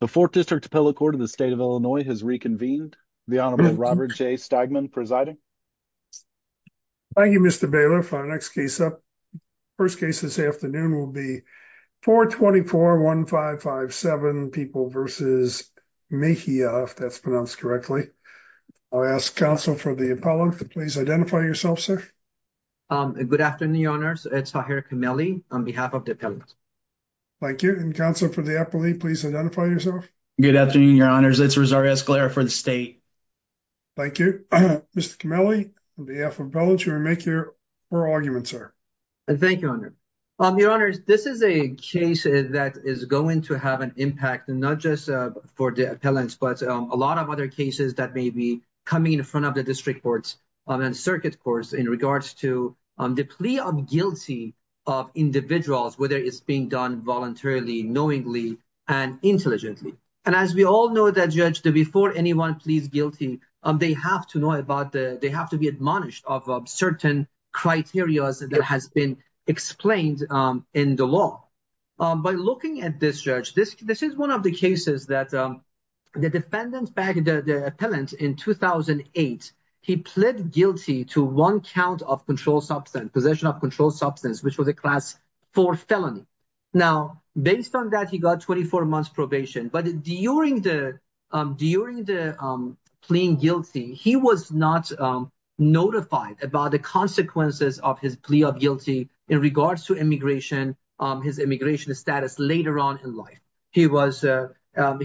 The 4th District Appellate Court of the State of Illinois has reconvened. The Honorable Robert J. Stegman presiding. Thank you, Mr. Baylor for our next case up. First case this afternoon will be 424-1557 People v. Mejia, if that's pronounced correctly. I'll ask counsel for the appellant to please identify yourself, sir. Good afternoon, Your Honors. It's Tahirah Kameli on behalf of the appellant. Thank you. And counsel for the appellate, please identify yourself. Good afternoon, Your Honors. It's Rosario Escalera for the state. Thank you. Mr. Kameli, on behalf of the appellant, you may make your oral argument, sir. Thank you, Your Honor. Your Honors, this is a case that is going to have an impact, not just for the appellant, but a lot of other cases that may be coming in front of the district circuit courts in regards to the plea of guilty of individuals, whether it's being done voluntarily, knowingly, and intelligently. And as we all know that, Judge, that before anyone pleads guilty, they have to know about, they have to be admonished of certain criteria that has been explained in the law. By looking at this, Judge, this is one of the cases that the defendant back, the appellant in 2008, he pled guilty to one count of control substance, possession of control substance, which was a class four felony. Now, based on that, he got 24 months probation. But during the, during the pleading guilty, he was not notified about the consequences of his plea of guilty in regards to immigration, his immigration status later on in he was,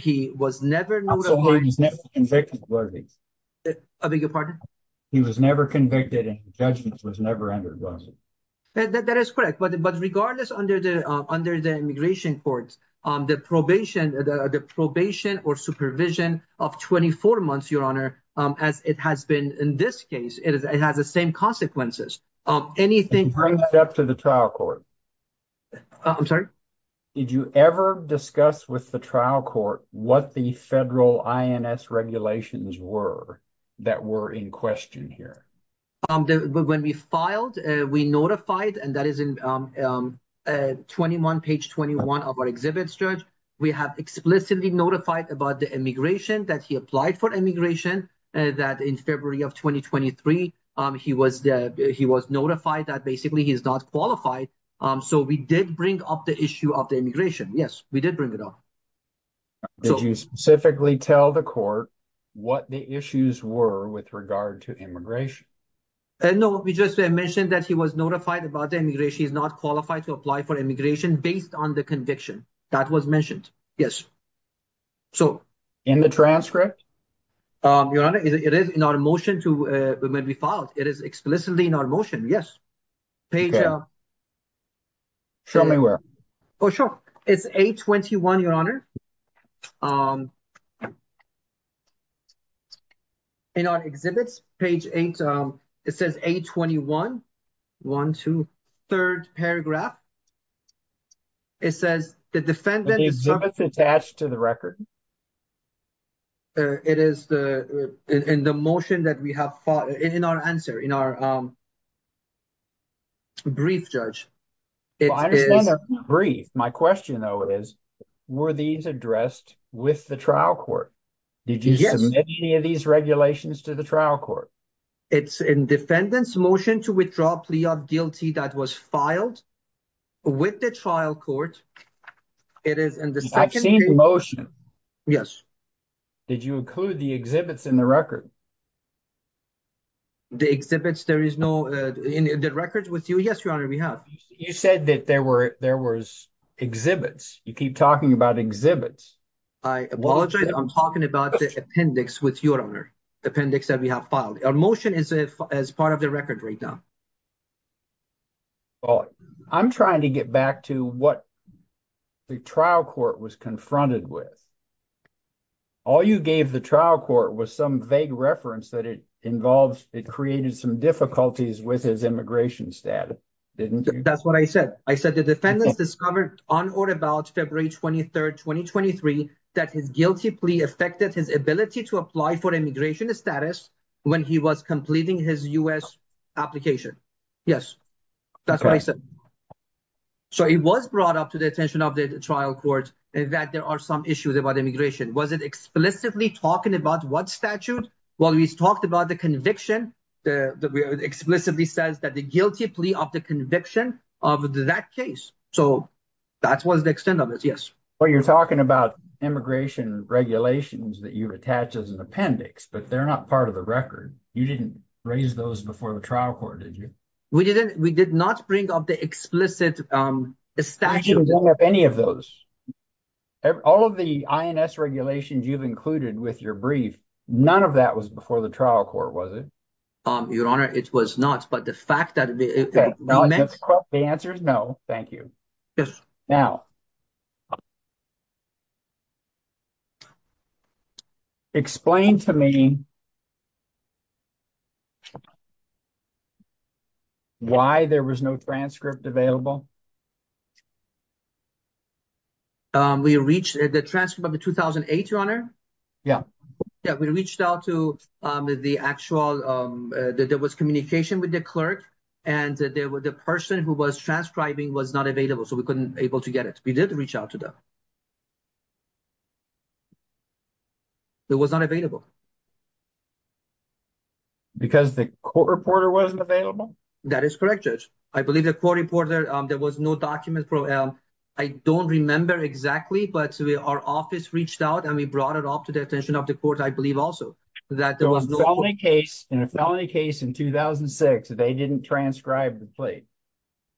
he was never notified. So he was never convicted, was he? I beg your pardon? He was never convicted and the judgment was never entered, was it? That is correct. But regardless under the, under the immigration courts, the probation, the probation or supervision of 24 months, Your Honor, as it has been in this case, it has the same consequences. Anything. Bring it up to the trial court. I'm sorry? Did you ever discuss with the trial court what the federal INS regulations were that were in question here? When we filed, we notified, and that is in 21, page 21 of our exhibits, Judge, we have explicitly notified about the immigration that he applied for immigration, that in February of 2023, he was, he was notified that basically he is not qualified. So we did bring up the issue of the immigration. Yes, we did bring it up. Did you specifically tell the court what the issues were with regard to immigration? And no, we just mentioned that he was notified about the immigration. He's not qualified to apply for immigration based on the conviction that was mentioned. Yes. So in the transcript, Your Honor, it is in our motion to when we filed, it is explicitly in our motion. Yes. Page. Show me where. Oh, sure. It's 821, Your Honor. In our exhibits, page 8, it says 821, 1, 2, 3rd paragraph. It says the defendant is attached to the record. It is in the motion that we have filed in our answer, in our brief, Judge. It is brief. My question, though, is were these addressed with the trial court? Did you submit any of these regulations to the trial court? It's in defendant's motion to withdraw plea of guilty that was filed with the trial court. It is in the motion. Yes. Did you include the exhibits in the record? The exhibits, there is no records with you. Yes, Your Honor, we have. You said that there were there was exhibits. You keep talking about exhibits. I apologize. I'm talking about the appendix with your Honor appendix that we have filed. Our motion is as part of the record right now. Well, I'm trying to get back to what the trial court was confronted with. All you gave the trial court was some vague reference that it involves. It created some difficulties with his immigration status, didn't you? That's what I said. I said the defendants discovered on or about February 23rd, 2023, that his guilty plea affected his ability to apply for immigration status when he was completing his U.S. application. Yes, that's what I said. So it was brought up to the attention of the trial court that there are some issues about immigration. Was it explicitly talking about what statute? Well, he's talked about the conviction that explicitly says that the guilty plea of the conviction of that case. So that was the extent of it. Yes. Well, you're talking about immigration regulations that you've attached as an appendix, but they're not part of the record. You didn't raise those before the trial court, did you? We didn't. We did not bring up the explicit statute of any of those. All of the INS regulations you've included with your brief. None of that was before the trial court, was it? Your Honor, it was not. But the fact that the answer is no. Thank you. Yes. Now, explain to me why there was no transcript available. We reached the transcript of the 2008, Your Honor. Yeah. Yeah, we reached out to the actual, there was communication with the clerk, and the person who was transcribing was not so we couldn't able to get it. We did reach out to them. It was not available. Because the court reporter wasn't available? That is correct, Judge. I believe the court reporter, there was no document. I don't remember exactly, but our office reached out and we brought it off to the attention of the court, I believe also. In a felony case in 2006, they didn't transcribe the plea.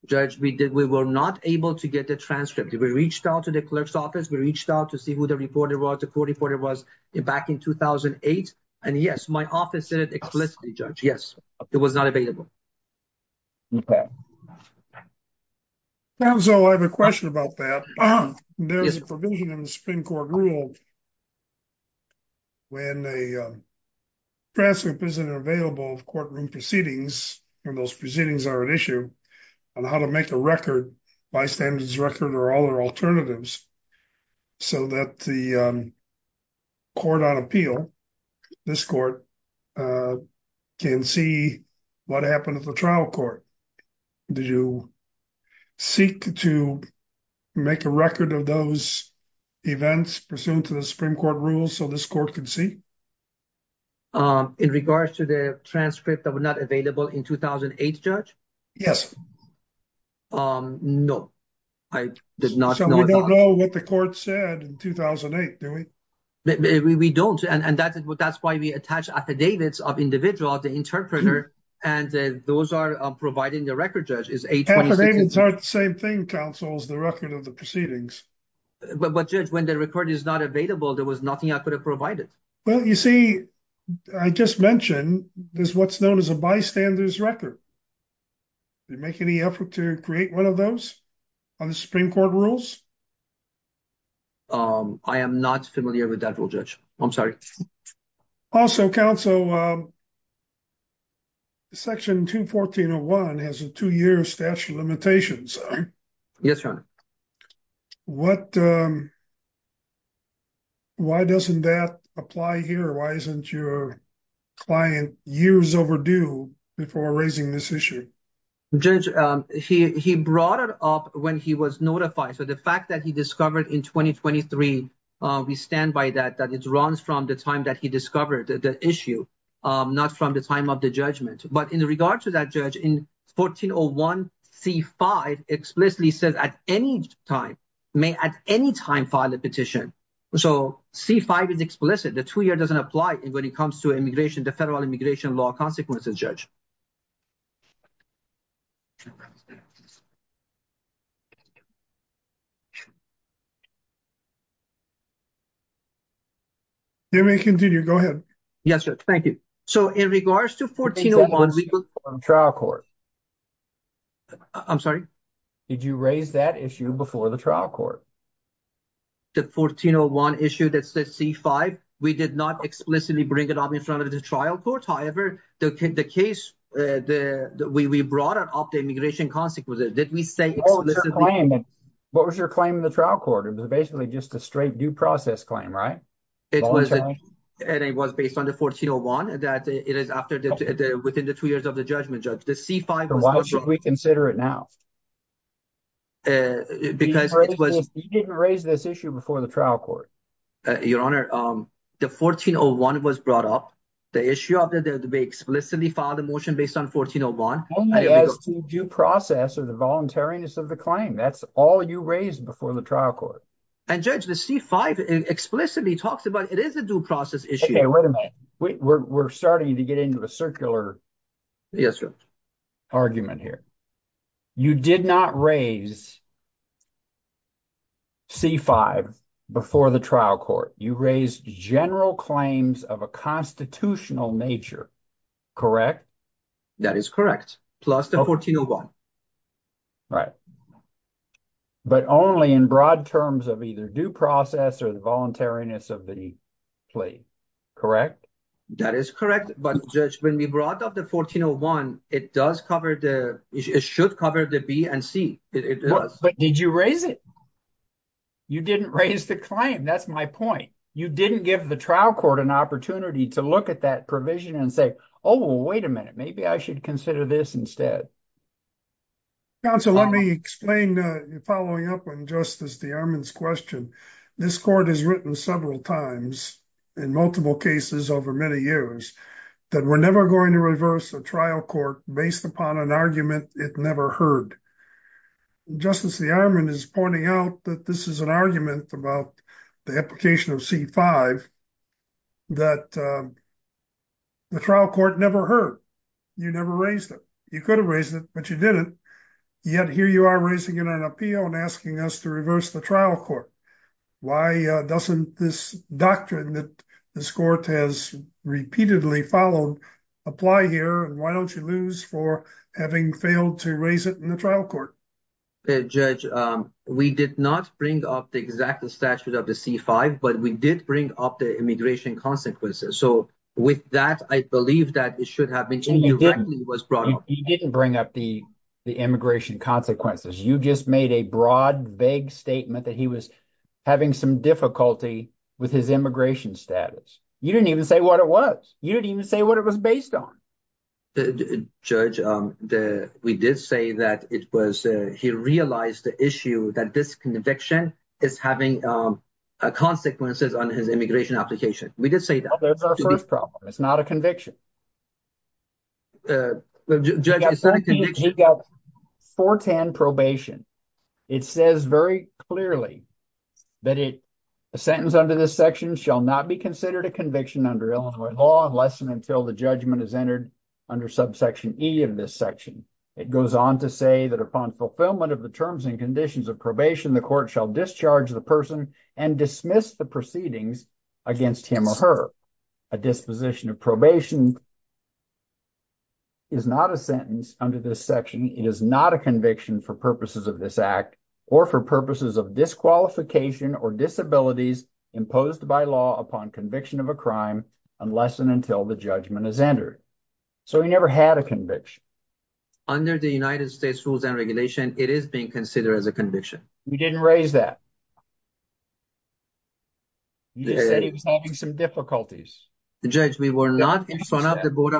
Judge, we were not able to get the transcript. We reached out to the clerk's office. We reached out to see who the reporter was, the court reporter was, back in 2008. And yes, my office said it explicitly, Judge. Yes, it was not available. Okay. So, I have a question about that. There's a provision in the Supreme Court rule that when a transcript isn't available of courtroom proceedings, when those proceedings are an issue, on how to make a record, bystander's record, or other alternatives, so that the court on appeal, this court, can see what happened at the trial court. Did you seek to make a record of those events, pursuant to the Supreme Court rules, so this court could see? In regards to the transcript that was not available in 2008, Judge? Yes. No, I did not know. So, we don't know what the court said in 2008, do we? We don't, and that's why we attach affidavits of individuals, the interpreter, and those are provided in the record, Judge. Affidavits aren't the same thing, Counsel, as the record of the proceedings. But, Judge, when the record is not available, there was nothing I could have provided. Well, you see, I just mentioned, there's what's known as a bystander's record. Did you make any effort to create one of those on the Supreme Court rules? I am not familiar with that rule, Judge. I'm sorry. Also, Counsel, Section 214.01 has a two-year statute of limitations. Yes, Your Honor. Why doesn't that apply here? Why isn't your client years overdue before raising this issue? Judge, he brought it up when he was notified. So, the fact that he discovered in 2023, we stand by that, that it runs from the time that he discovered the issue, not from the time of the judgment. But, in regard to that, Judge, in 1401 C-5 explicitly says, at any time, may at any time file a petition. So, C-5 is explicit. The two-year doesn't apply when it comes to immigration, the federal immigration law consequences, Judge. You may continue. Go ahead. Yes, Judge. Thank you. So, in regards to 1401 C-5. Trial Court. I'm sorry. Did you raise that issue before the trial court? The 1401 issue, that's the C-5. We did not explicitly bring it up in front of the trial court. However, the case that we brought up, the immigration consequences, did we say What was your claim in the trial court? It was basically just a straight due process claim, right? It was. And it was based on the 1401 that it is after the within the two years of judgment, Judge. The C-5. Why should we consider it now? Because it was. You didn't raise this issue before the trial court. Your Honor, the 1401 was brought up. The issue of the debate explicitly filed a motion based on 1401. Only as to due process or the voluntariness of the claim. That's all you raised before the trial court. And, Judge, the C-5 explicitly talks about it as a due process issue. Wait a minute. We're starting to get into a circular argument here. You did not raise C-5 before the trial court. You raised general claims of a constitutional nature. Correct? That is correct. Plus the 1401. Right. But only in broad terms of either due process or voluntariness of the claim. Correct? That is correct. But, Judge, when we brought up the 1401, it does cover the, it should cover the B and C. It does. But did you raise it? You didn't raise the claim. That's my point. You didn't give the trial court an opportunity to look at that provision and say, oh, wait a minute. Maybe I should consider this instead. Counsel, let me follow up on Justice DeArmond's question. This court has written several times in multiple cases over many years that we're never going to reverse a trial court based upon an argument it never heard. Justice DeArmond is pointing out that this is an argument about the application of C-5 that the trial court never heard. You never raised it. You could have raised it, but you didn't. Yet here you are raising it on appeal and asking us to reverse the trial court. Why doesn't this doctrine that this court has repeatedly followed apply here? And why don't you lose for having failed to raise it in the trial court? Judge, we did not bring up the exact statute of the C-5, but we did bring up the immigration consequences. So with that, I believe that it should have been brought up. You didn't bring up the immigration consequences. You just made a broad, vague statement that he was having some difficulty with his immigration status. You didn't even say what it was. You didn't even say what it was based on. Judge, we did say that it was he realized the issue that this conviction is having consequences on his immigration application. We did say that. That's our first problem. It's not a conviction. Judge, it's not a conviction. He got 410 probation. It says very clearly that a sentence under this section shall not be considered a conviction under Illinois law unless and until the judgment is entered under subsection E of this section. It goes on to say that upon fulfillment of the terms and conditions of probation, the court shall discharge the person and dismiss the proceedings against him or her. A disposition of probation is not a sentence under this section. It is not a conviction for purposes of this act or for purposes of disqualification or disabilities imposed by law upon conviction of a crime unless and until the judgment is entered. So he never had a conviction. Under the United States rules and regulation, it is being considered as a conviction. You didn't raise that. You just said he was having some difficulties. Judge, we were not in front of the board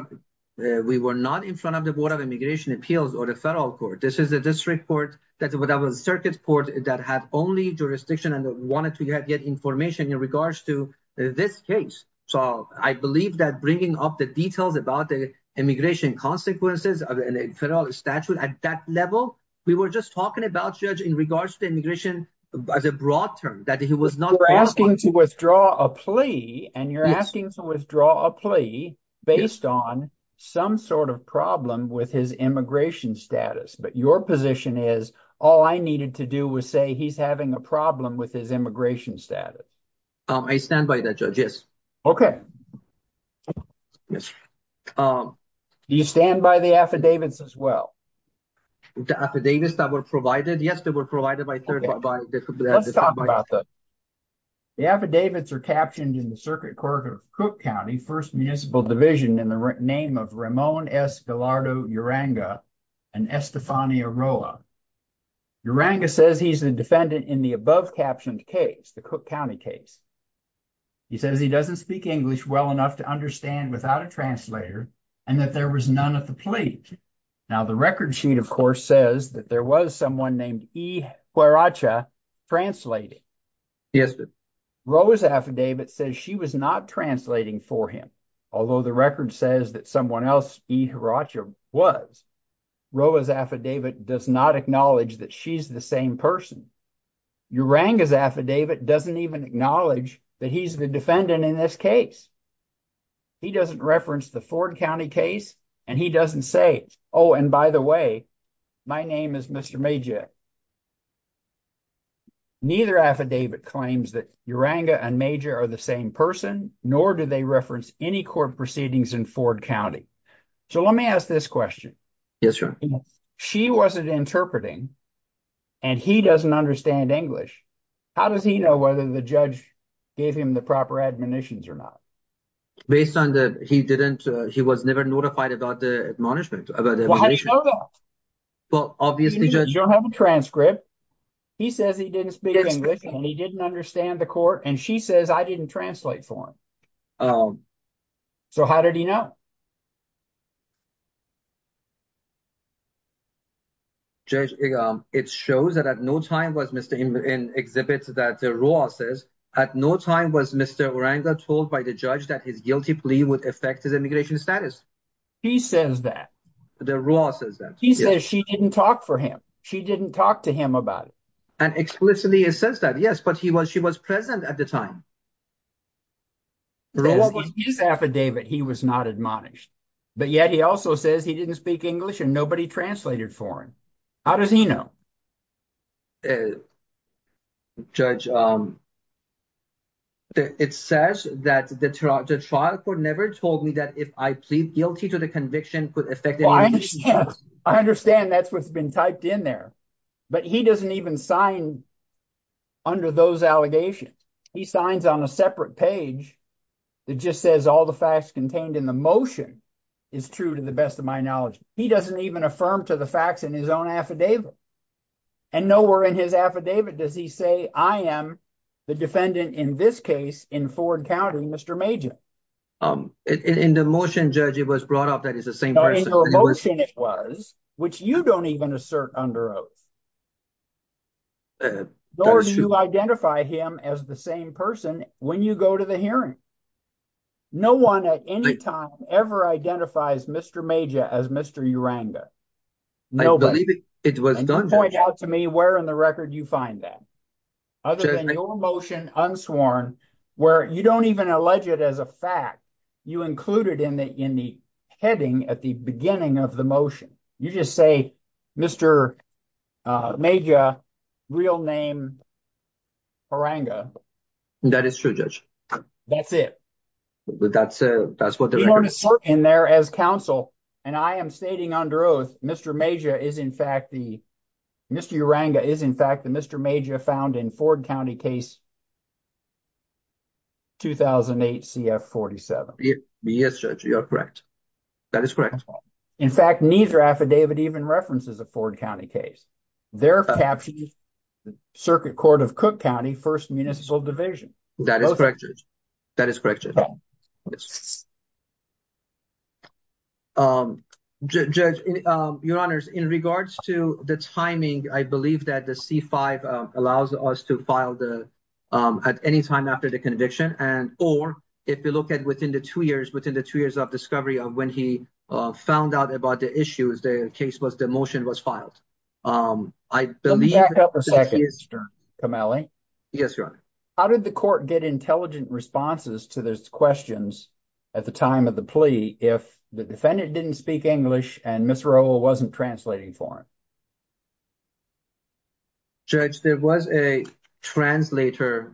of immigration appeals or the federal court. This is a district court. That's what I was circuits court that had only jurisdiction and wanted to get information in regards to this case. So I believe that bringing up the details about the immigration consequences of a federal statute at that level, we were just talking about judge in regards to immigration as a broad term that he was not asking to withdraw a plea and you're asking to withdraw a plea based on some sort of problem with his immigration status. But your position is all I needed to do was say he's having a problem with his immigration status. I stand by that, Judge. Yes. Okay. Yes. Do you stand by the affidavits as well? The affidavits that were provided? Yes, they were provided by third. Let's talk about that. The affidavits are captioned in the circuit court of Cook County, First Municipal Division in the name of Ramon S. Gallardo Uranga and Estefania Roa. Uranga says he's the defendant in the above captioned case, the Cook County case. He says he doesn't speak English well enough to understand without a translator and that there was none at the plate. Now the record sheet, of course, says that there was someone named E. Huaracha translating. Yes. Roa's affidavit says she was not translating for him. Although the record says that someone else, E. Huaracha, was. Roa's affidavit does not acknowledge that she's the same person. Uranga's affidavit doesn't even acknowledge that he's the defendant in this case. He doesn't reference the Ford County case and he doesn't say, oh, and by the way, my name is Mr. Majak. Neither affidavit claims that Uranga and Majak are the same person, nor do they reference any court proceedings in Ford County. So let me ask this question. Yes, and he doesn't understand English. How does he know whether the judge gave him the proper admonitions or not? Based on the, he didn't, he was never notified about the admonishment. Well, obviously, you don't have a transcript. He says he didn't speak English and he didn't understand the court and she says I didn't translate for him. So how did he know? Judge, it shows that at no time was Mr. in exhibits that the Roa says, at no time was Mr. Uranga told by the judge that his guilty plea would affect his immigration status. He says that. The Roa says that. He says she didn't talk for him. She didn't talk to him about it. And explicitly it says that, yes, but he was, she was present at the time. Roa was his affidavit, he was not admonished. But yet he also says he didn't speak English and nobody translated for him. How does he know? Judge, it says that the trial court never told me that if I plead guilty to the conviction could affect the immigration status. I understand that's what's been typed in there, but he doesn't even sign under those allegations. He signs on a separate page that just says all the facts contained in the motion is true to the best of my knowledge. He doesn't even affirm to the facts in his own affidavit. And nowhere in his affidavit does he say I am the defendant in this case in Ford County, Mr. Major. In the motion, Judge, it was brought up that it's the same person. In the motion it was, which you don't even assert under oath. Nor do you identify him as the same person when you go to the hearing. No one at any time ever identifies Mr. Major as Mr. Uranga. Nobody. I believe it was done, Judge. Point out to me where in the record you find that. Other than your motion unsworn, where you don't even allege it as a fact. You include it in the heading at the beginning of the motion. You just say, Mr. Major, real name, Uranga. That is true, Judge. That's it. That's what the record says. You don't assert in there as counsel. And I am stating under oath, Mr. Major is in fact the, Mr. Uranga is in fact the Mr. Major found in Ford County case 2008 CF-47. Yes, Judge, you are correct. That is correct. In fact, neither affidavit even references a Ford County case. They're capturing the Circuit Court of Cook County, First Municipal Division. That is correct, Judge. That is correct, Judge. Judge, Your Honors, in regards to the timing, I believe that the C-5 allows us to file the, at any time after the conviction. And, or if you look at within the two years, within the two years of discovery of when he found out about the issues, the case was, the motion was filed. I believe... Let me back up a second, Mr. Kameli. Yes, Your Honor. How did the court get intelligent responses to those questions at the time of the plea if the defendant didn't speak English and Ms. Rowell wasn't translating for him? Judge, there was a translator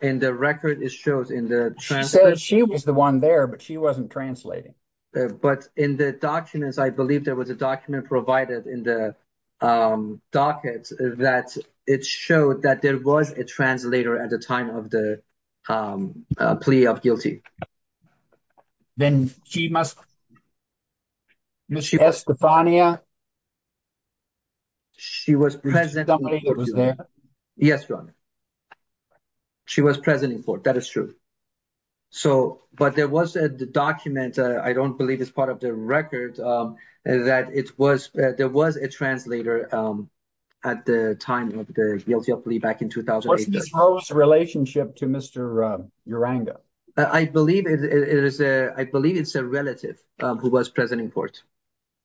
in the record. She said she was the one there, but she wasn't translating. But in the documents, I believe there was a document provided in the docket that it showed that there was a translator at the time of the plea of guilty. Then she must... Ms. Stefania? She was present... Somebody was there? Yes, Your Honor. She was present in court. That is true. So, but there was a document, I don't believe it's part of the record, that it was, there was a translator at the time of the guilty of plea back in 2008. What's Ms. Rowell's relationship to Mr. Uranga? I believe it's a relative who was present in court.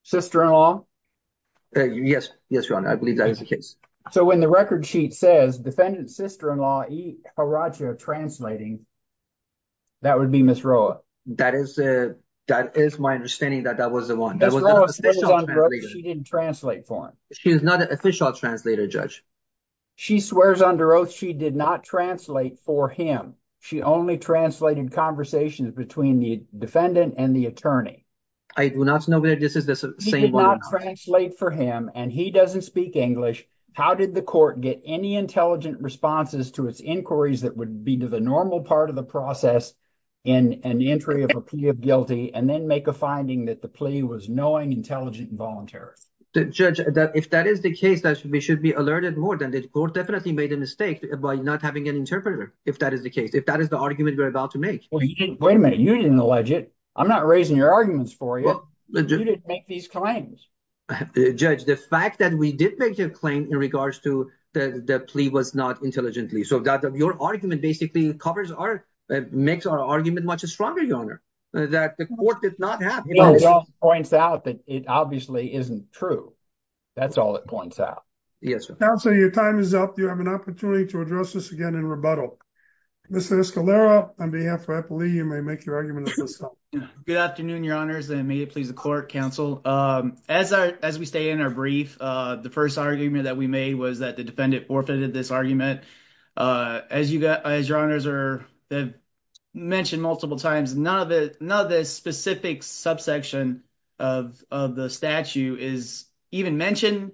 Sister-in-law? Yes, Your Honor. I believe that is the case. So, when the record sheet says defendant's sister-in-law, E. Haracha, translating, that would be Ms. Rowell? That is my understanding that that was the one. Ms. Rowell swears under oath she didn't translate for him. She is not an official translator, Judge. She swears under oath she did not translate for him. She only translated conversations between the defendant and the attorney. I do not know whether this is the same... He did not translate for him, and he doesn't speak English. How did the court get any intelligent responses to its inquiries that would be to the normal part of the process in an entry of a plea of guilty, and then make a finding that the plea was knowing, intelligent, and voluntary? Judge, that if that is the case, that we should be alerted more than the court definitely made a mistake by not having an interpreter, if that is the case, if that is the argument we're about to make. Wait a minute, you didn't allege it. I'm not raising your arguments for you. You didn't make these claims. Judge, the fact that we did make a claim in regards to the plea was not intelligently, so your argument basically makes our argument much stronger, Your Honor, that the court did not have... It all points out that it obviously isn't true. That's all it points out. Counsel, your time is up. You have an opportunity to address this again in rebuttal. Mr. Escalera, on behalf of Eppley, you may make your argument. Good afternoon, Your Honors, and may it please the court, counsel. As we stay in our brief, the first argument that we made was that the defendant forfeited this argument. As Your Honors have mentioned multiple times, none of the specific subsection of the statute is even mentioned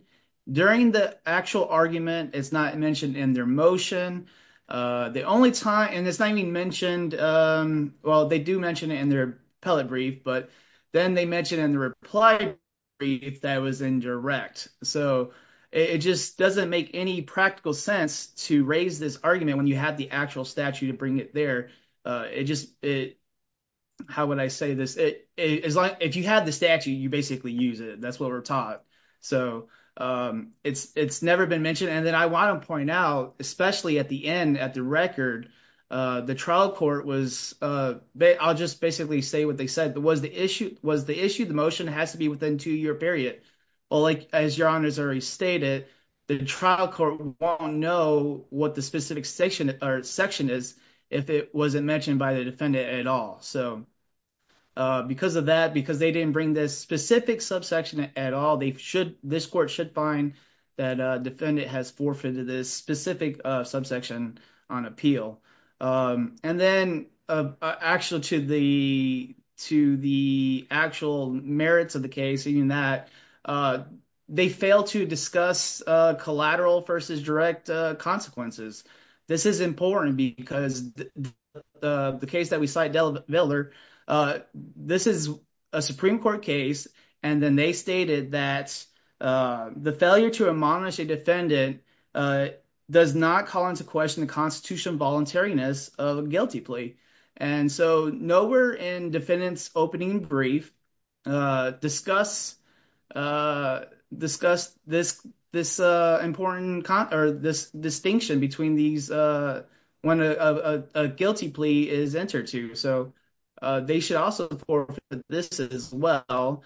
during the actual argument. It's not mentioned in their motion. The only time... And it's not even mentioned... Well, they do mention it in their appellate brief, but then they mention it in the reply brief that was indirect. So it just doesn't make any practical sense to raise this argument when you have the actual statute to bring it there. It just... How would I say this? If you have the statute, you basically use it. That's what we're taught. So it's never been mentioned. And then I want to point out, especially at the end, at the record, the trial court was... I'll just basically say what they said. Was the issue the motion has to be within two-year period? Well, as Your Honors already stated, the trial court won't know what the specific section is if it wasn't mentioned by the defendant at all. So because of that, because they didn't bring this specific subsection at all, this court should find that defendant has forfeited this specific subsection on appeal. And then actually to the actual merits of the case, even that they failed to discuss collateral versus direct consequences. This is important because the case that we cite, Viller, this is a Supreme Court case. And then they stated that the failure to admonish a defendant does not call into question the constitutional voluntariness of a guilty plea. And so nowhere in defendant's opening brief discuss this important... Or this distinction between these when a guilty plea is entered to. So they should also forfeit this as well.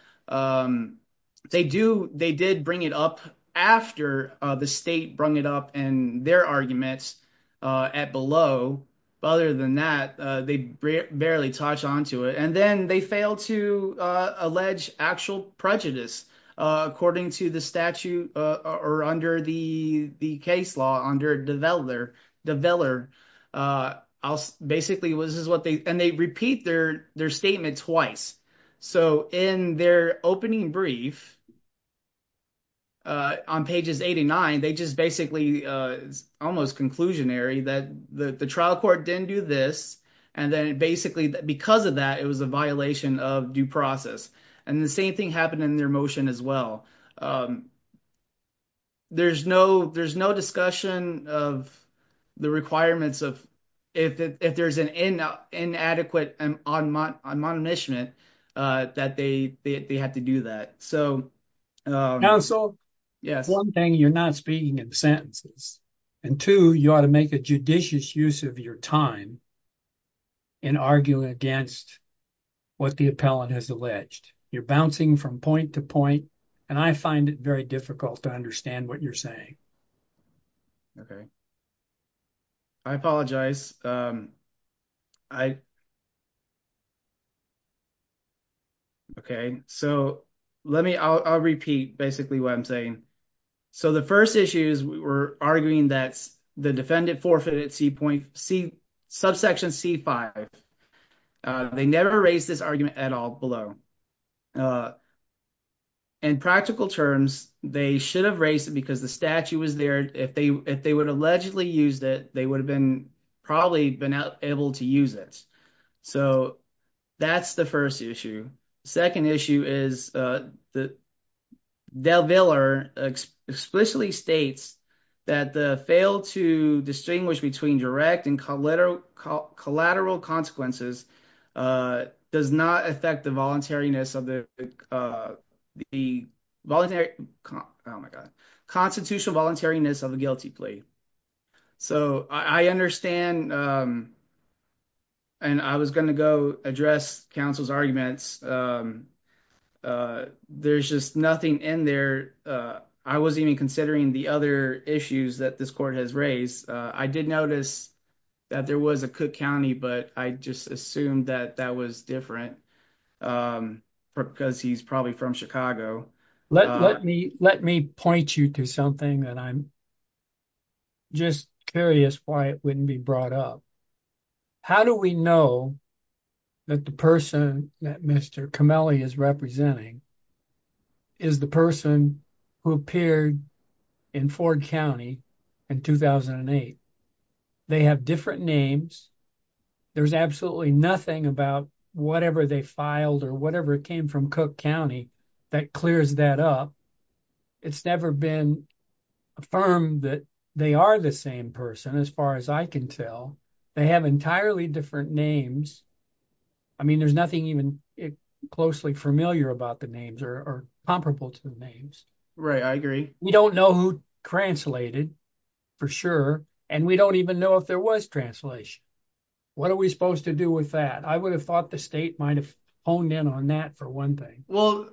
They did bring it up after the state brung it up in their arguments at below. But other than that, they barely touch onto it. And then they failed to allege actual prejudice according to the statute or under the case law under the Viller. And they repeat their statement twice. So in their opening brief on pages 89, they just basically almost conclusionary that the trial court didn't do this. And then basically because of that, it was a violation of due process. And the same thing in their motion as well. There's no discussion of the requirements of... If there's an inadequate admonishment, that they have to do that. So- Counsel. Yes. One thing, you're not speaking in sentences. And two, you ought to make a judicious use of your time in arguing against what the appellant has alleged. You're bouncing from point to point. And I find it very difficult to understand what you're saying. Okay. I apologize. I... Okay. So let me... I'll repeat basically what I'm saying. So the first issue is we're arguing that the defendant forfeited subsection C5. They never raised this argument at all below. In practical terms, they should have raised it because the statute was there. If they would allegedly used it, they would have been probably able to use it. So that's the first issue. Second issue is that DelVillar explicitly states that the fail to distinguish between direct and collateral consequences does not affect the voluntariness of the... Oh my God. Constitutional voluntariness of a guilty plea. So I understand and I was going to go address counsel's arguments. There's just nothing in there. I wasn't even considering the other issues that this court has raised. I did notice that there was a Cook County, but I just assumed that that was different because he's probably from Chicago. Let me point you to something that I'm just curious why it wouldn't be brought up. How do we know that the person that Mr. Comelli is representing is the person who appeared in Ford County in 2008? They have different names. There's absolutely nothing about whatever they filed or whatever came from Cook County that clears that up. It's never been affirmed that they are the same person as far as I can tell. They have entirely different names. I mean, there's nothing even closely familiar about the names or comparable to the names. Right. I agree. We don't know who translated for sure. And we don't even know if there was translation. What are we supposed to do with that? I would have thought the state might have honed in on that for one thing. Well,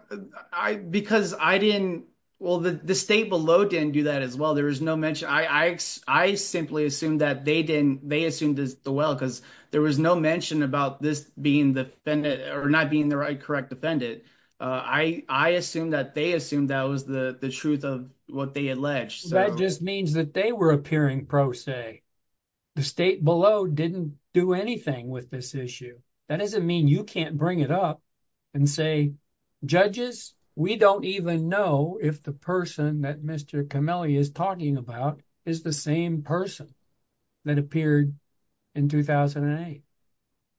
the state below didn't do that as well. I simply assumed that they assumed as well because there was no mention about this being the defendant or not being the right correct defendant. I assume that they assumed that was the truth of what they said. That just means that they were appearing pro se. The state below didn't do anything with this issue. That doesn't mean you can't bring it up and say, judges, we don't even know if the person that Mr. Comelli is talking about is the same person that appeared in 2008.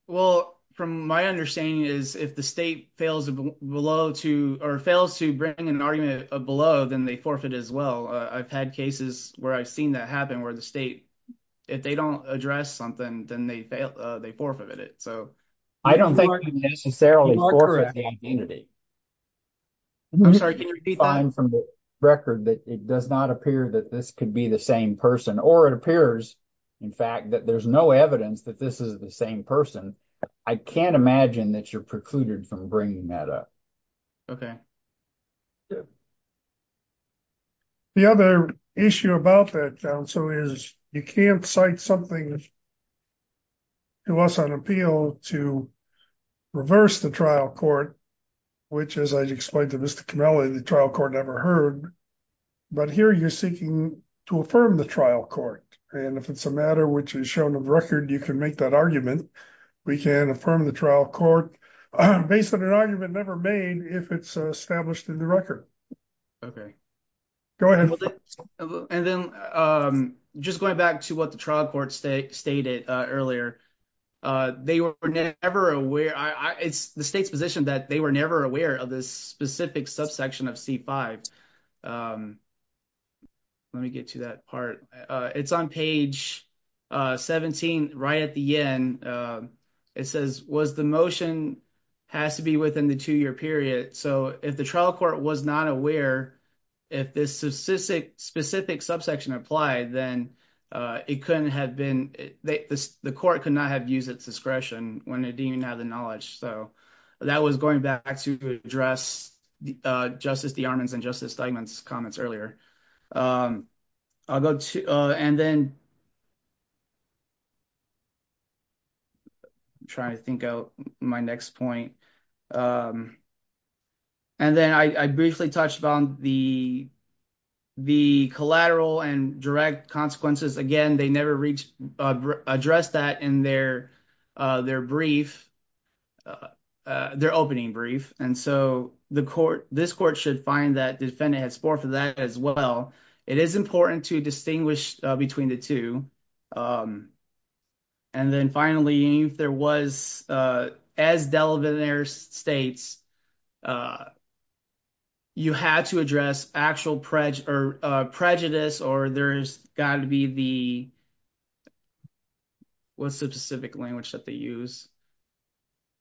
Well, from my understanding is if the state fails to bring an argument below, then they forfeit as well. I've had cases where I've seen that happen where the state, if they don't address something, then they fail, they forfeit it. So I don't think necessarily. I'm sorry, I'm from the record that it does not appear that this could be the same person, or it appears in fact, that there's no evidence that this is the same person. I can't imagine that you're precluded from bringing that up. Okay. The other issue about that, John, so is you can't cite something to us on appeal to reverse the trial court, which as I explained to Mr. Comelli, the trial court never heard. But here you're seeking to affirm the trial court. And if it's a matter which is shown on the record, you can make that argument. We can affirm the trial court based on an argument never made if it's established in the record. Okay. Go ahead. And then just going back to what the trial court stated earlier, they were never aware, it's the state's position that they were never aware of this specific subsection of C5. Let me get to that part. It's on page 17, right at the end. It says was the motion has to be within the two-year period. So if the trial court was not aware, if this specific subsection applied, then it couldn't have been, the court could not have used its discretion when it didn't have the knowledge. So that was going back to address Justice DeArmond's and Justice Steigman's comments earlier. I'll go to, and then I'm trying to think of my next point. And then I briefly touched on the collateral and direct consequences. Again, they never addressed that in their opening brief. And so this court should find that defendant has forfeited that as well. It is important to distinguish between the two. And then finally, if there was, as Delavan-Aire states, you had to address actual prejudice or there's got to be the, what's the specific language that they use?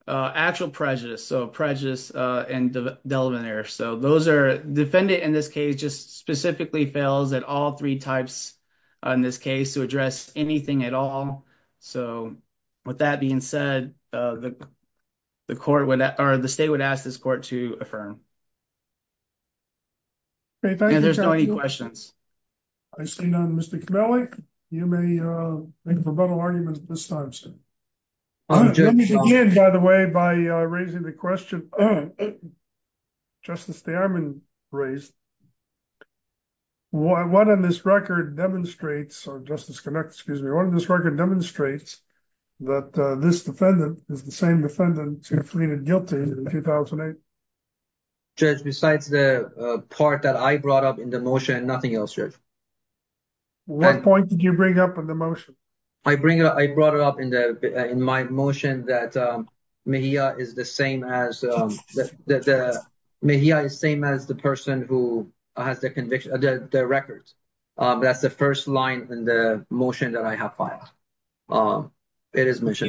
Actual prejudice. So prejudice and Delavan-Aire. So those are, defendant in this case just specifically fails at all three types in this case to address anything at all. So with that being said, the court would, or the state would ask this court to affirm. And there's not any questions. I see none. Mr. Kamelec, you may make a rebuttal argument at this time, sir. Let me begin, by the way, by raising the question Justice Steigman raised. What on this record demonstrates, Justice Kamelec, excuse me, what on this record demonstrates that this defendant is the same defendant who fleed guilty in 2008? Judge, besides the part that I brought up in the motion, nothing else, Judge. What point did you bring up in the motion? I brought it up in my motion that Mejia is the same as the person who has the record. That's the first line in the motion that I have filed. You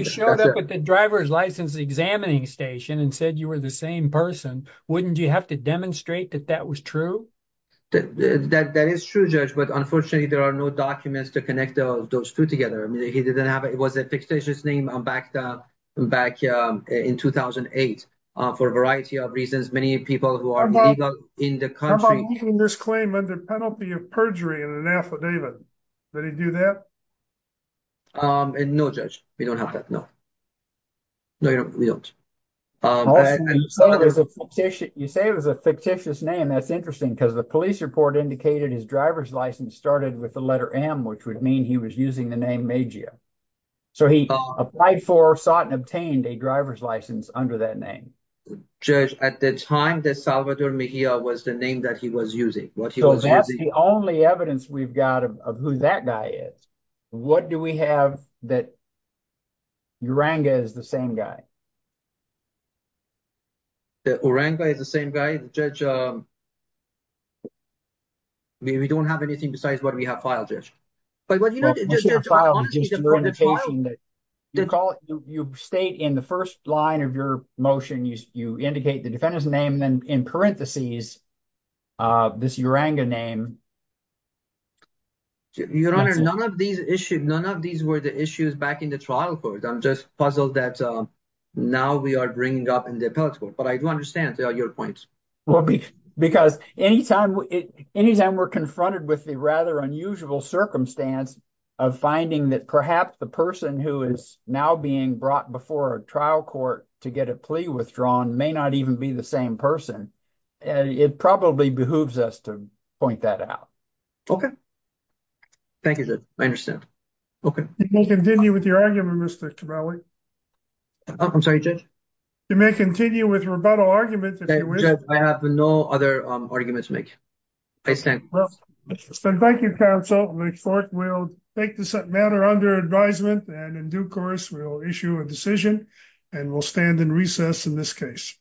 showed up at the driver's license examining station and said you were the same person. Wouldn't you have to demonstrate that that was true? That is true, Judge. But unfortunately, there are no documents to connect those two together. I mean, he didn't have it. It was a fictitious name back in 2008 for a variety of reasons. Many people who are illegal in the country— How about keeping this claim under penalty of perjury in an affidavit? Would he do that? No, Judge. We don't have that. No. No, we don't. You say it was a fictitious name. That's because the police report indicated his driver's license started with the letter M, which would mean he was using the name Mejia. So he applied for, sought, and obtained a driver's license under that name. Judge, at the time, Salvador Mejia was the name that he was using. So that's the only evidence we've got of who that guy is. What do we have that Uranga is the same guy? The Uranga is the same guy, Judge? We don't have anything besides what we have filed, Judge. You state in the first line of your motion, you indicate the defendant's name, then in parenthesis, this Uranga name. Your Honor, none of these issues, none of these were the issues back in the trial court. I'm just that now we are bringing up in the appellate court. But I do understand your points. Well, because anytime we're confronted with the rather unusual circumstance of finding that perhaps the person who is now being brought before a trial court to get a plea withdrawn may not even be the same person, it probably behooves us to point that out. Okay. Thank you, Judge. I understand. You may continue with your argument, Mr. Kibale. I'm sorry, Judge? You may continue with rebuttal argument if you wish. I have no other arguments to make. Please stand. Thank you, counsel. The court will take this matter under advisement, and in due course, we'll issue a decision, and we'll stand in recess in this case.